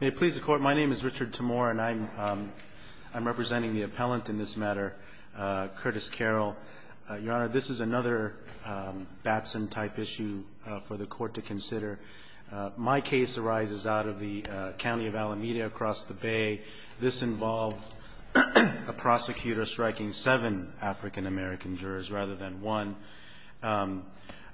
May it please the Court, my name is Richard Timore and I'm representing the appellant in this matter, Curtis Carroll. Your Honor, this is another Batson-type issue for the Court to consider. My case arises out of the county of Alameda across the Bay. This involved a prosecutor striking seven African-American jurors rather than one.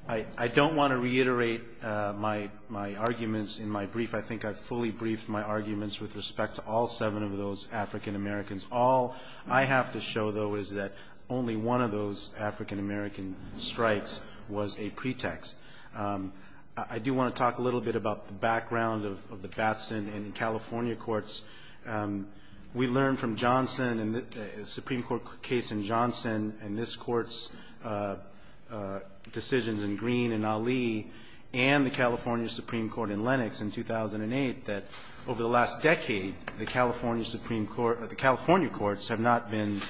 I don't want to reiterate my arguments in my brief. I think I fully briefed my arguments with respect to all seven of those African-Americans. All I have to show, though, is that only one of those African-American strikes was a pretext. I do want to talk a little bit about the background of the Batson in California courts. We learned from Johnson and the Supreme Court case in Johnson and this Court's decisions in Green and Ali and the California Supreme Court in Lennox in 2008 that over the last decade, the California Supreme Court or the California courts have not been,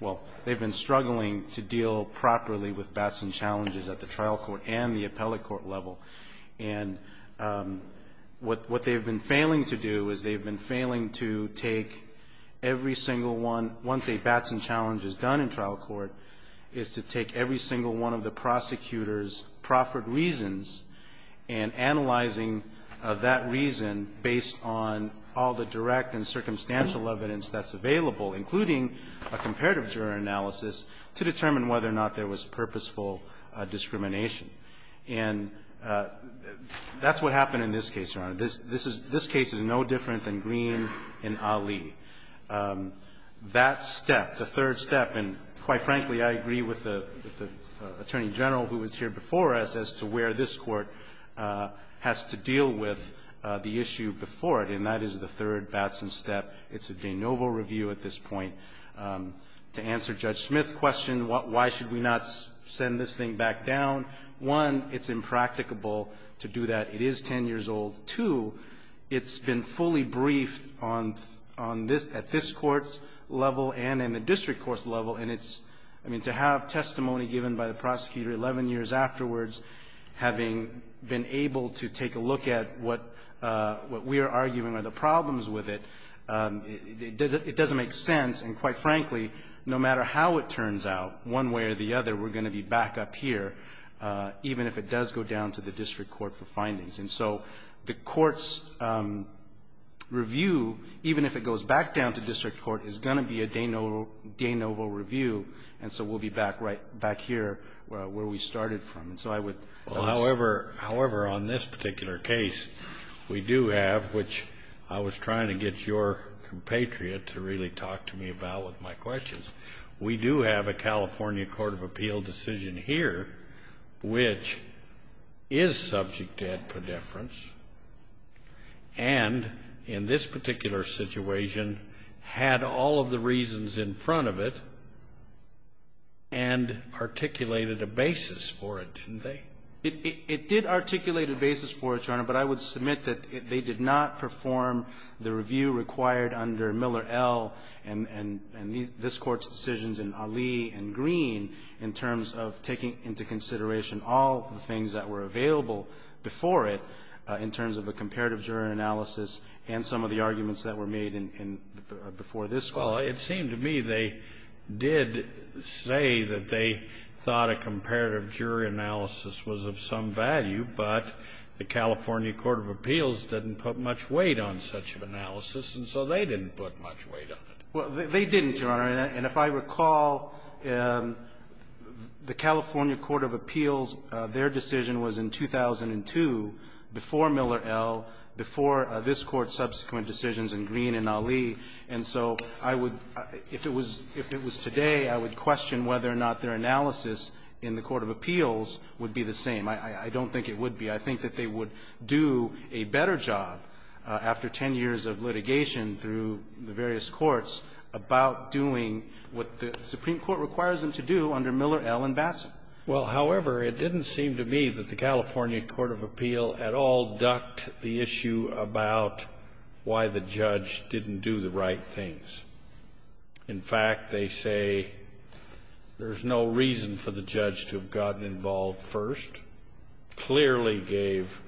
well, they've been struggling to deal properly with Batson challenges at the trial court and the appellate court level. And what they've been failing to do is they've been failing to take every single one, once a Batson challenge is done in trial court, is to take every single one of the prosecutor's proffered reasons and analyzing that reason based on all the direct and circumstantial evidence that's available, including a comparative jury analysis, to determine whether or not there was purposeful discrimination. And that's what happened in this case, Your Honor. This case is no different than Green and Ali. That step, the third step, and quite frankly, I agree with the Attorney General who was here before us as to where this Court has to deal with the issue before it, and that is the third Batson step. It's a de novo review at this point to answer Judge Smith's question, why should we not send this thing back down. One, it's impracticable to do that. It is 10 years old. Two, it's been fully briefed on this at this Court's level and in the district court's level, and it's, I mean, to have testimony given by the prosecutor 11 years afterwards, having been able to take a look at what we are arguing are the other, we're going to be back up here even if it does go down to the district court for findings. And so the Court's review, even if it goes back down to district court, is going to be a de novo review, and so we'll be back right back here where we started from. And so I would ask you. Kennedy, however, on this particular case, we do have, which I was trying to get your compatriot to really talk to me about with my questions, we do have a California Court of Appeal decision here which is subject to ad predeference and, in this particular situation, had all of the reasons in front of it and articulated a basis for it, didn't they? It did articulate a basis for it, Your Honor, but I would submit that they did not perform the review required under Miller L. and this Court's decisions in Ali and Green in terms of taking into consideration all of the things that were available before it in terms of a comparative jury analysis and some of the arguments that were made in, before this Court. Well, it seemed to me they did say that they thought a comparative jury analysis was of some value, but the California Court of Appeals didn't put much weight on such an analysis, and so they didn't put much weight on it. Well, they didn't, Your Honor. And if I recall, the California Court of Appeals, their decision was in 2002 before Miller L., before this Court's subsequent decisions in Green and Ali. And so I would, if it was, if it was today, I would question whether or not their analysis in the court of appeals would be the same. I don't think it would be. I think that they would do a better job after 10 years of litigation through the various courts about doing what the Supreme Court requires them to do under Miller L. and Batson. Well, however, it didn't seem to me that the California Court of Appeals at all ducked the issue about why the judge didn't do the right things. In fact, they say there's no reason for the judge to have gotten involved first, clearly gave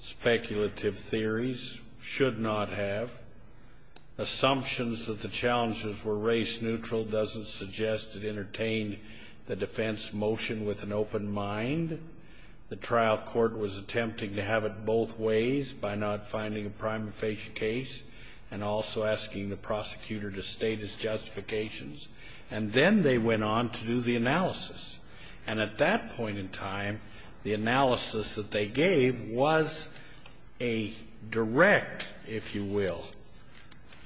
speculative theories, should not have. Assumptions that the challenges were race-neutral doesn't suggest it entertained the defense motion with an open mind. The trial court was attempting to have it both ways by not finding a prima facie case and also asking the prosecutor to state his justifications. And then they went on to do the analysis. And at that point in time, the analysis that they gave was a direct, if you will,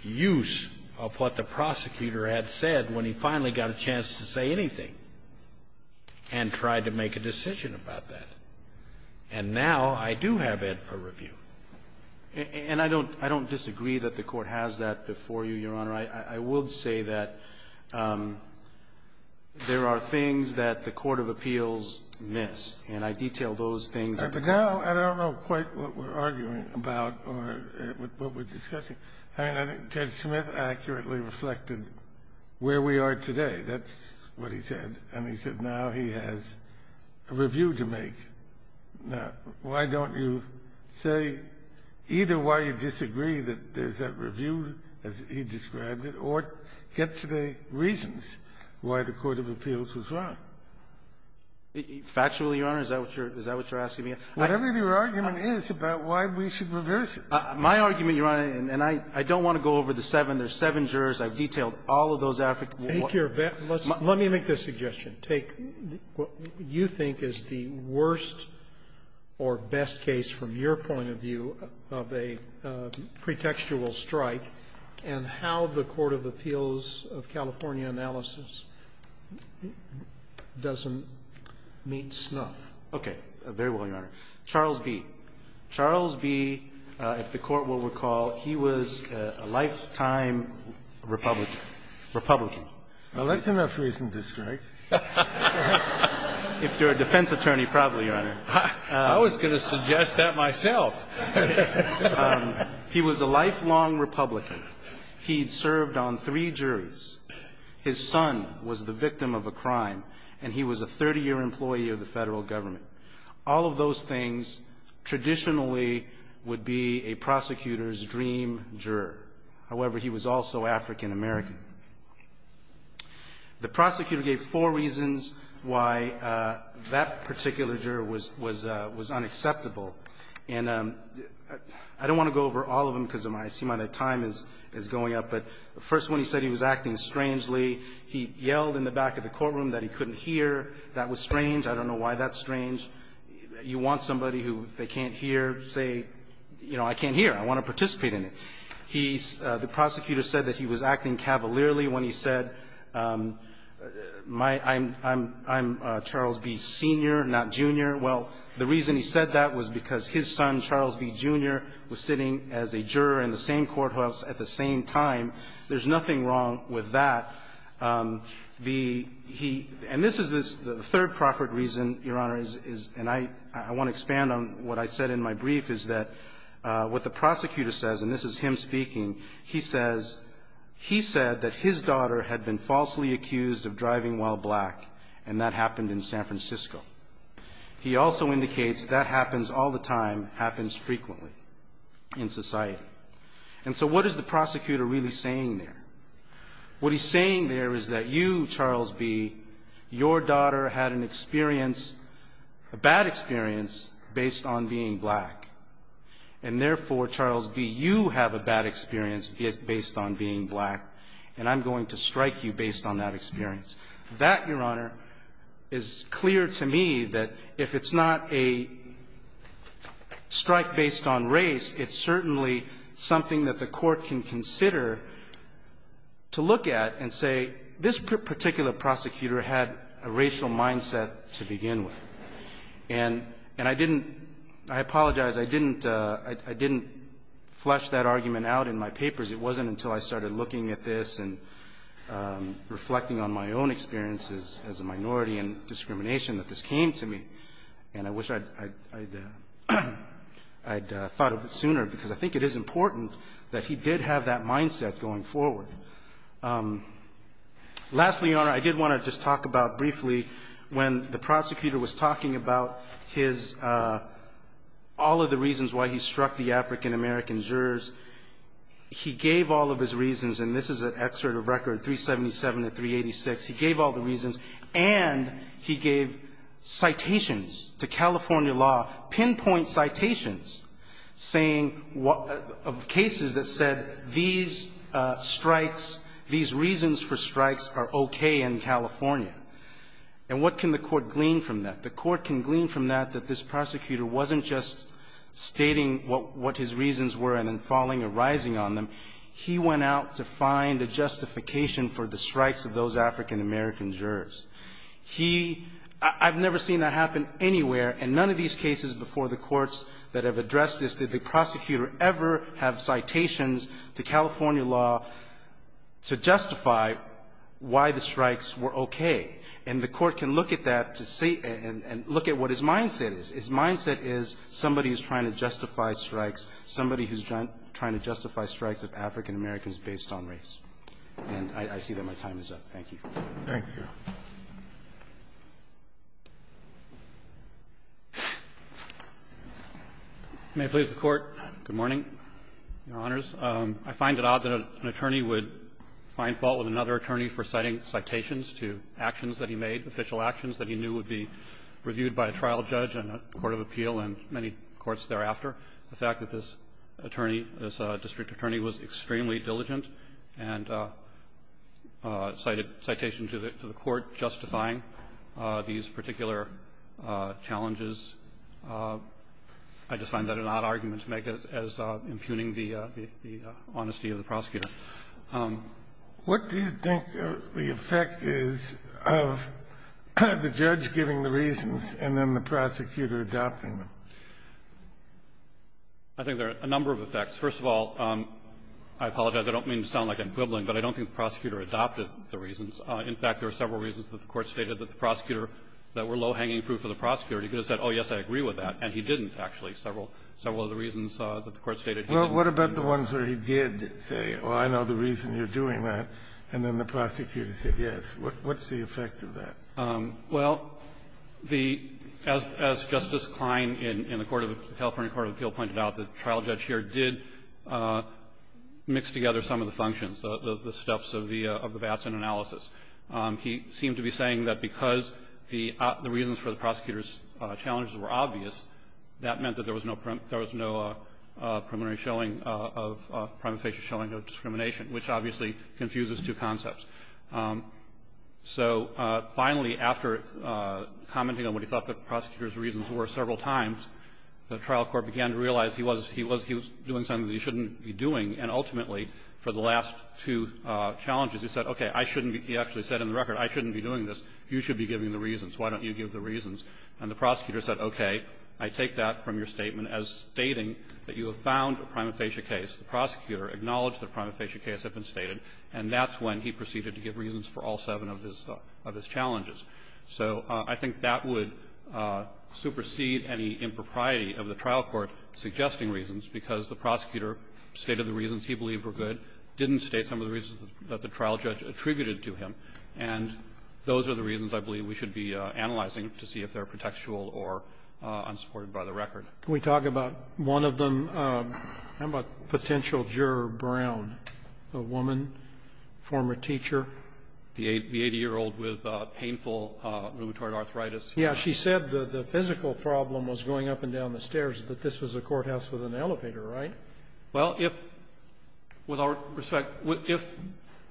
use of what the prosecutor had said when he finally got a chance to say anything and tried to make a decision about that. And now I do have it for review. And I don't disagree that the Court has that before you, Your Honor. I would say that there are things that the Court of Appeals missed. And I detail those things. But now I don't know quite what we're arguing about or what we're discussing. I mean, I think Judge Smith accurately reflected where we are today. That's what he said. And he said now he has a review to make. Now, why don't you say either why you disagree that there's that review, as he described it, or get to the reasons why the Court of Appeals was wrong? Factually, Your Honor, is that what you're asking me? Whatever your argument is about why we should reverse it. My argument, Your Honor, and I don't want to go over the seven. There's seven jurors. I've detailed all of those. Let me make this suggestion. Take what you think is the worst or best case from your point of view of a pretextual strike and how the Court of Appeals of California analysis doesn't meet snuff. Okay. Very well, Your Honor. Charles B. Charles B., if the Court will recall, he was a lifetime Republican. Well, that's enough reason to strike. If you're a defense attorney, probably, Your Honor. I was going to suggest that myself. He was a lifelong Republican. He'd served on three juries. His son was the victim of a crime, and he was a 30-year employee of the Federal Government. All of those things traditionally would be a prosecutor's dream juror. However, he was also African-American. The prosecutor gave four reasons why that particular juror was unacceptable. And I don't want to go over all of them because I see my time is going up, but the first one, he said he was acting strangely. He yelled in the back of the courtroom that he couldn't hear. That was strange. I don't know why that's strange. You want somebody who they can't hear say, you know, I can't hear. I want to participate in it. He's the prosecutor said that he was acting cavalierly when he said, I'm Charles B., Sr., not Jr. Well, the reason he said that was because his son, Charles B., Jr., was sitting as a juror in the same courthouse at the same time. There's nothing wrong with that. And this is the third proper reason, Your Honor, and I want to expand on what I said in my brief is that what the prosecutor says, and this is him speaking, he says he said that his daughter had been falsely accused of driving while black, and that happened in San Francisco. He also indicates that happens all the time, happens frequently in society. And so what is the prosecutor really saying there? What he's saying there is that you, Charles B., your daughter had an experience, a bad experience based on being black, and therefore, Charles B., you have a bad experience based on being black, and I'm going to strike you based on that experience. That, Your Honor, is clear to me that if it's not a strike based on race, it's certainly something that the court can consider to look at and say, this particular prosecutor had a racial mindset to begin with. And I didn't – I apologize. I didn't flush that argument out in my papers. It wasn't until I started looking at this and reflecting on my own experiences as a minority and discrimination that this came to me. And I wish I'd thought of it sooner, because I think it is important that he did have that mindset going forward. Lastly, Your Honor, I did want to just talk about briefly when the prosecutor was talking about his – all of the reasons why he struck the African-American jurors, he gave all of his reasons, and this is an excerpt of Record 377 of 386. He gave all the reasons, and he gave citations to California law, pinpoint citations saying what – of cases that said these strikes, these reasons for strikes are okay in California. And what can the court glean from that? The court can glean from that that this prosecutor wasn't just stating what his reasons were and then falling or rising on them. He went out to find a justification for the strikes of those African-American jurors. He – I've never seen that happen anywhere, and none of these cases before the courts that have addressed this did the prosecutor ever have citations to California law to justify why the strikes were okay. And the court can look at that to see – and look at what his mindset is. His mindset is somebody is trying to justify strikes, somebody who's trying to justify the strikes of African-Americans based on race. And I see that my time is up. Thank you. Thank you. May it please the Court. Good morning, Your Honors. I find it odd that an attorney would find fault with another attorney for citing citations to actions that he made, official actions that he knew would be reviewed by a trial judge and a court of appeal and many courts thereafter. The fact that this attorney, this district attorney, was extremely diligent and cited citations to the court justifying these particular challenges, I just find that an odd argument to make as impugning the honesty of the prosecutor. What do you think the effect is of the judge giving the reasons and then the prosecutor adopting them? I think there are a number of effects. First of all, I apologize. I don't mean to sound like I'm quibbling, but I don't think the prosecutor adopted the reasons. In fact, there are several reasons that the Court stated that the prosecutor that were low-hanging fruit for the prosecutor, he could have said, oh, yes, I agree with that. And he didn't, actually, several of the reasons that the Court stated he didn't. Well, what about the ones where he did say, oh, I know the reason you're doing that, and then the prosecutor said, yes. What's the effect of that? Well, the as Justice Klein in the Court of the California Court of Appeal pointed out, the trial judge here did mix together some of the functions, the steps of the VATS analysis. He seemed to be saying that because the reasons for the prosecutor's challenges were obvious, that meant that there was no preliminary showing of prima facie showing of discrimination, which obviously confuses two concepts. So finally, after commenting on what he thought the prosecutor's reasons were several times, the trial court began to realize he was doing something that he shouldn't be doing, and ultimately, for the last two challenges, he said, okay, I shouldn't be – he actually said in the record, I shouldn't be doing this. You should be giving the reasons. Why don't you give the reasons? And the prosecutor said, okay, I take that from your statement as stating that you have found a prima facie case. The prosecutor acknowledged that a prima facie case had been stated, and that's when he proceeded to give reasons for all seven of his – of his challenges. So I think that would supersede any impropriety of the trial court suggesting reasons, because the prosecutor stated the reasons he believed were good, didn't state some of the reasons that the trial judge attributed to him, and those are the reasons I believe we should be analyzing to see if they're protectual or unsupported by the record. Can we talk about one of them? How about potential juror Brown, a woman, former teacher? The 80-year-old with painful rheumatoid arthritis. Yeah. She said the physical problem was going up and down the stairs, but this was a courthouse with an elevator, right? Well, if, with all respect, if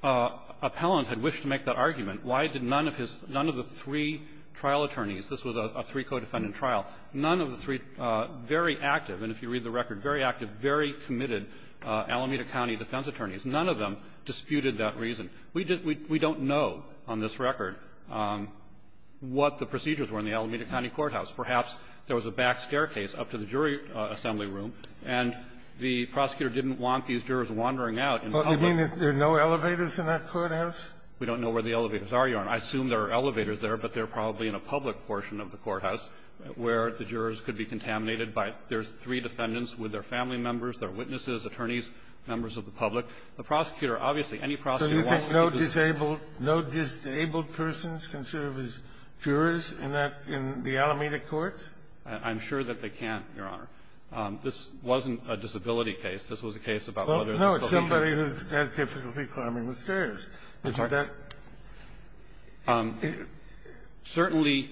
appellant had wished to make that argument, why did none of his – none of the three trial attorneys – this was a three-codefendant trial – none of the three very active, and if you read the record, very active, very committed Alameda County defense attorneys, none of them disputed that reason. We don't know on this record what the procedures were in the Alameda County courthouse. Perhaps there was a back staircase up to the jury assembly room, and the prosecutor didn't want these jurors wandering out in public. But you mean there are no elevators in that courthouse? We don't know where the elevators are, Your Honor. I assume there are elevators there, but they're probably in a public portion of the courthouse where the jurors could be contaminated by – there's three defendants with their family members, their witnesses, attorneys, members of the public. The prosecutor, obviously, any prosecutor wants to be able to do that. So you think no disabled persons can serve as jurors in that – in the Alameda courts? I'm sure that they can, Your Honor. This wasn't a disability case. This was a case about whether the social security – I'm sorry. Certainly,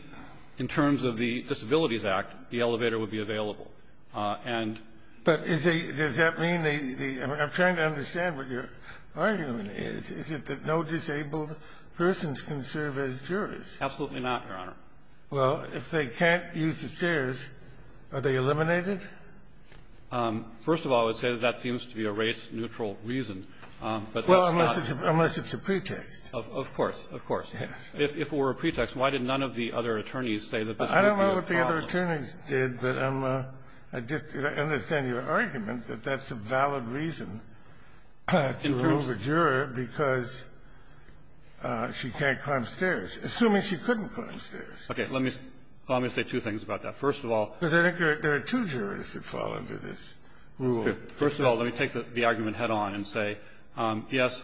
in terms of the Disabilities Act, the elevator would be available. And – But is the – does that mean the – I'm trying to understand what your argument is. Is it that no disabled persons can serve as jurors? Absolutely not, Your Honor. Well, if they can't use the stairs, are they eliminated? First of all, I would say that that seems to be a race-neutral reason. But that's not – Unless it's a pretext. Of course. Of course. Yes. If it were a pretext, why did none of the other attorneys say that this would be a problem? I don't know what the other attorneys did, but I'm – I just – I understand your argument that that's a valid reason to rule the juror because she can't climb stairs, assuming she couldn't climb stairs. Okay. Let me – let me say two things about that. First of all – Because I think there are two jurors that fall under this rule. First of all, let me take the argument head-on and say, yes,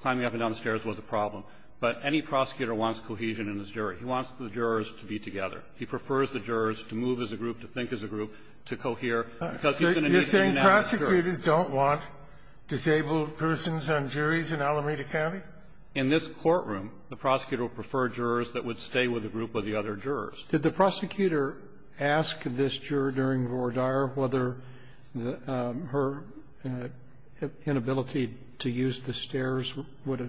climbing up and down the stairs was a problem, but any prosecutor wants cohesion in his jury. He wants the jurors to be together. He prefers the jurors to move as a group, to think as a group, to cohere, because he's going to need a unanimous jury. You're saying prosecutors don't want disabled persons on juries in Alameda County? In this courtroom, the prosecutor would prefer jurors that would stay with a group of the other jurors. Did the prosecutor ask this juror during Vordaer whether her inability to use the stairs would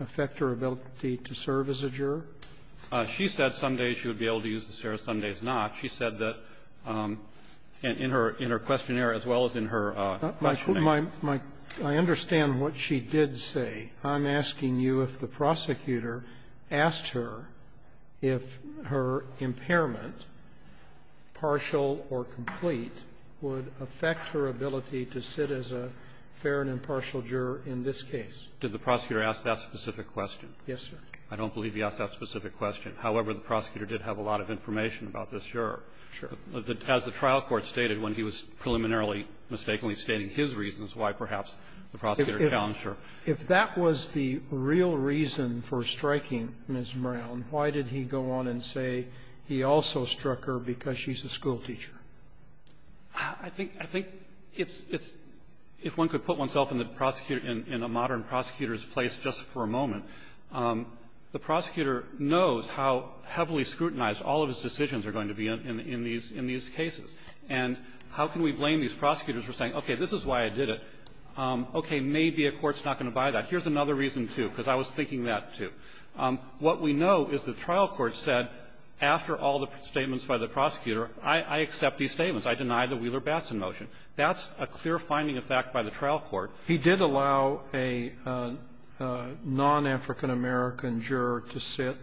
affect her ability to serve as a juror? She said some days she would be able to use the stairs, some days not. She said that in her – in her questionnaire, as well as in her questioning My – my – I understand what she did say. I'm asking you if the prosecutor asked her if her impairment, partial or complete, would affect her ability to sit as a fair and impartial juror in this case. Did the prosecutor ask that specific question? Yes, sir. I don't believe he asked that specific question. However, the prosecutor did have a lot of information about this juror. Sure. As the trial court stated when he was preliminarily mistakenly stating his reasons why perhaps the prosecutor challenged her. If that was the real reason for striking Ms. Brown, why did he go on and say he also struck her because she's a schoolteacher? I think – I think it's – it's – if one could put oneself in the prosecutor – in a modern prosecutor's place just for a moment, the prosecutor knows how heavily scrutinized all of his decisions are going to be in these – in these cases. And how can we blame these prosecutors for saying, okay, this is why I did it? Okay. Maybe a court's not going to buy that. Here's another reason, too, because I was thinking that, too. What we know is the trial court said, after all the statements by the prosecutor, I – I accept these statements. I deny the Wheeler-Batson motion. That's a clear finding of fact by the trial court. He did allow a non-African American juror to sit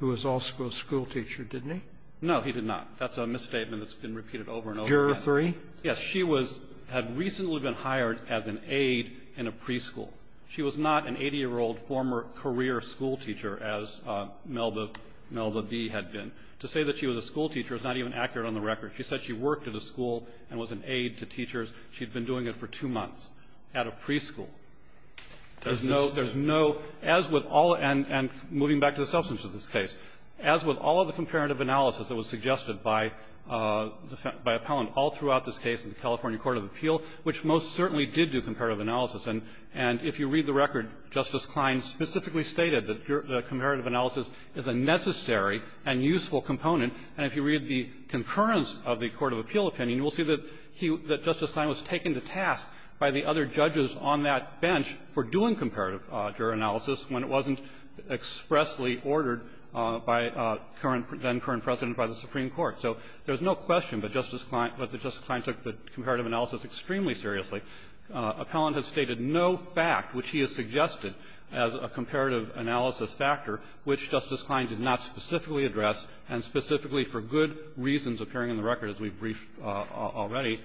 who was also a schoolteacher, didn't he? No, he did not. That's a misstatement that's been repeated over and over again. Juror three? Yes. She was – had recently been hired as an aide in a preschool. She was not an 80-year-old former career schoolteacher, as Melba – Melba B. had been. To say that she was a schoolteacher is not even accurate on the record. She said she worked at a school and was an aide to teachers. She'd been doing it for two months at a preschool. There's no – there's no – as with all – and – and moving back to the substance of this case, as with all of the comparative analysis that was suggested by – by Appellant all throughout this case in the California Court of Appeal, which most certainly did do comparative analysis. And – and if you read the record, Justice Klein specifically stated that juror – that comparative analysis is a necessary and useful component. And if you read the concurrence of the Court of Appeal opinion, you'll see that he – that Justice Klein was taken to task by the other judges on that bench for doing comparative juror analysis when it wasn't expressly ordered by current – then-current president by the Supreme Court. So there's no question that Justice Klein – that Justice Klein took the comparative analysis extremely seriously. Appellant has stated no fact which he has suggested as a comparative analysis factor which Justice Klein did not specifically address and specifically for good reasons appearing in the record, as we've briefed already,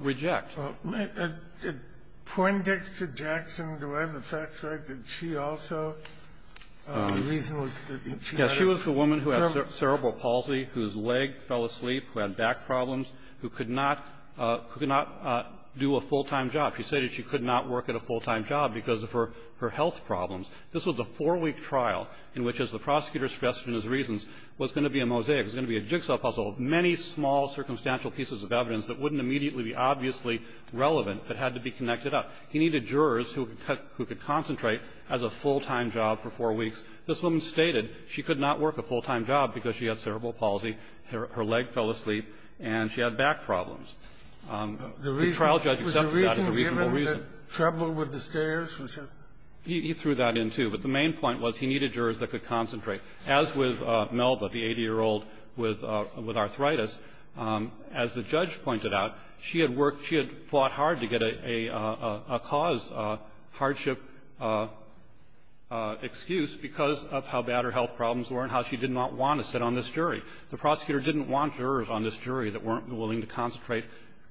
reject. Kennedy, did Poindexter-Jackson, do I have the facts right, did she also? The reason was that she had a – who had back problems, who could not – who could not do a full-time job. She stated she could not work at a full-time job because of her – her health problems. This was a four-week trial in which, as the prosecutor stressed in his reasons, was going to be a mosaic. It was going to be a jigsaw puzzle of many small circumstantial pieces of evidence that wouldn't immediately be obviously relevant but had to be connected up. He needed jurors who could – who could concentrate as a full-time job for four weeks. This woman stated she could not work a full-time job because she had cerebral palsy, her – her leg fell asleep, and she had back problems. The trial judge accepted that as a reasonable reason. Was the reason given the trouble with the stairs? He threw that in, too. But the main point was he needed jurors that could concentrate. As with Melba, the 80-year-old with arthritis, as the judge pointed out, she had worked – she had fought hard to get a cause, a hardship excuse because of how bad her health problems were and how she did not want to sit on this jury. The prosecutor didn't want jurors on this jury that weren't willing to concentrate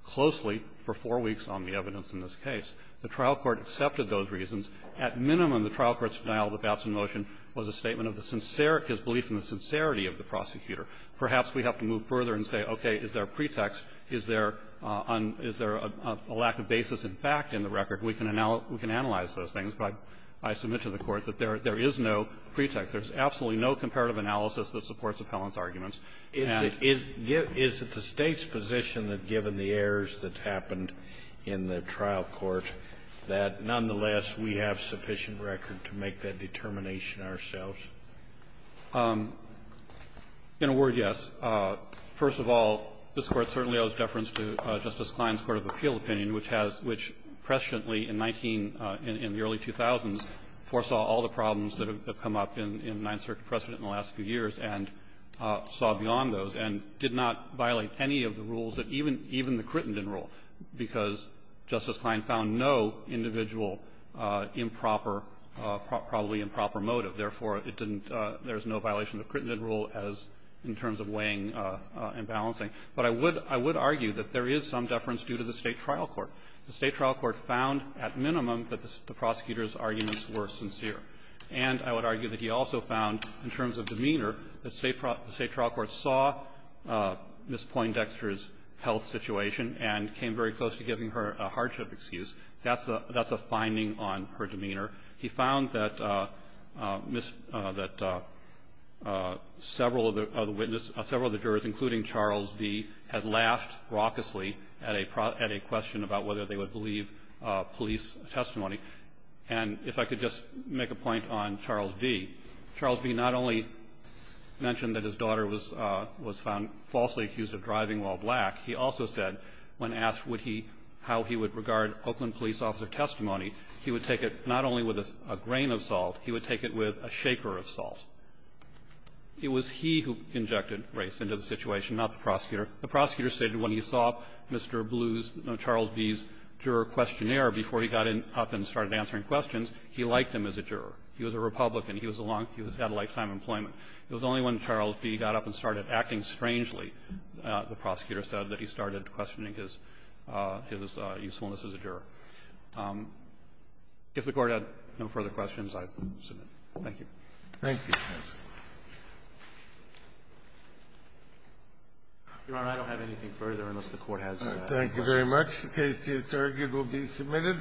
closely for four weeks on the evidence in this case. The trial court accepted those reasons. At minimum, the trial court's denial of the Batson motion was a statement of the sincere – his belief in the sincerity of the prosecutor. Perhaps we have to move further and say, okay, is there a pretext? Is there a – is there a lack of basis in fact in the record? We can – we can analyze those things by – by submission to the Court that there – there is no pretext. There's absolutely no comparative analysis that supports Appellant's arguments. And the other thing is, is it the State's position that given the errors that happened in the trial court, that nonetheless we have sufficient record to make that determination ourselves? In a word, yes. First of all, this Court certainly owes deference to Justice Klein's court of appeal opinion, which has – which presciently in 19 – in the early 2000s foresaw all the in the Ninth Circuit precedent in the last few years and saw beyond those, and did not violate any of the rules that even – even the Crittenden rule, because Justice Klein found no individual improper – probably improper motive. Therefore, it didn't – there's no violation of the Crittenden rule as – in terms of weighing and balancing. But I would – I would argue that there is some deference due to the State trial court. The State trial court found at minimum that the prosecutor's arguments were sincere. And I would argue that he also found, in terms of demeanor, that State – the State trial court saw Ms. Poindexter's health situation and came very close to giving her a hardship excuse. That's a – that's a finding on her demeanor. He found that Ms. – that several of the – of the witness – several of the jurors, including Charles B., had laughed raucously at a – at a question about whether they would believe police testimony. And if I could just make a point on Charles B. Charles B. not only mentioned that his daughter was – was found falsely accused of driving while black. He also said, when asked would he – how he would regard Oakland police officer testimony, he would take it not only with a grain of salt, he would take it with a shaker of salt. It was he who injected race into the situation, not the prosecutor. The prosecutor stated when he saw Mr. Blue's – Charles B.'s juror questionnaire before he got up and started answering questions, he liked him as a juror. He was a Republican. He was a long – he had a lifetime employment. It was only when Charles B. got up and started acting strangely, the prosecutor said, that he started questioning his – his usefulness as a juror. If the Court had no further questions, I submit. Thank you. Thank you, Your Honor. Your Honor, I don't have anything further unless the Court has other questions. Thank you very much. The case to his target will be submitted.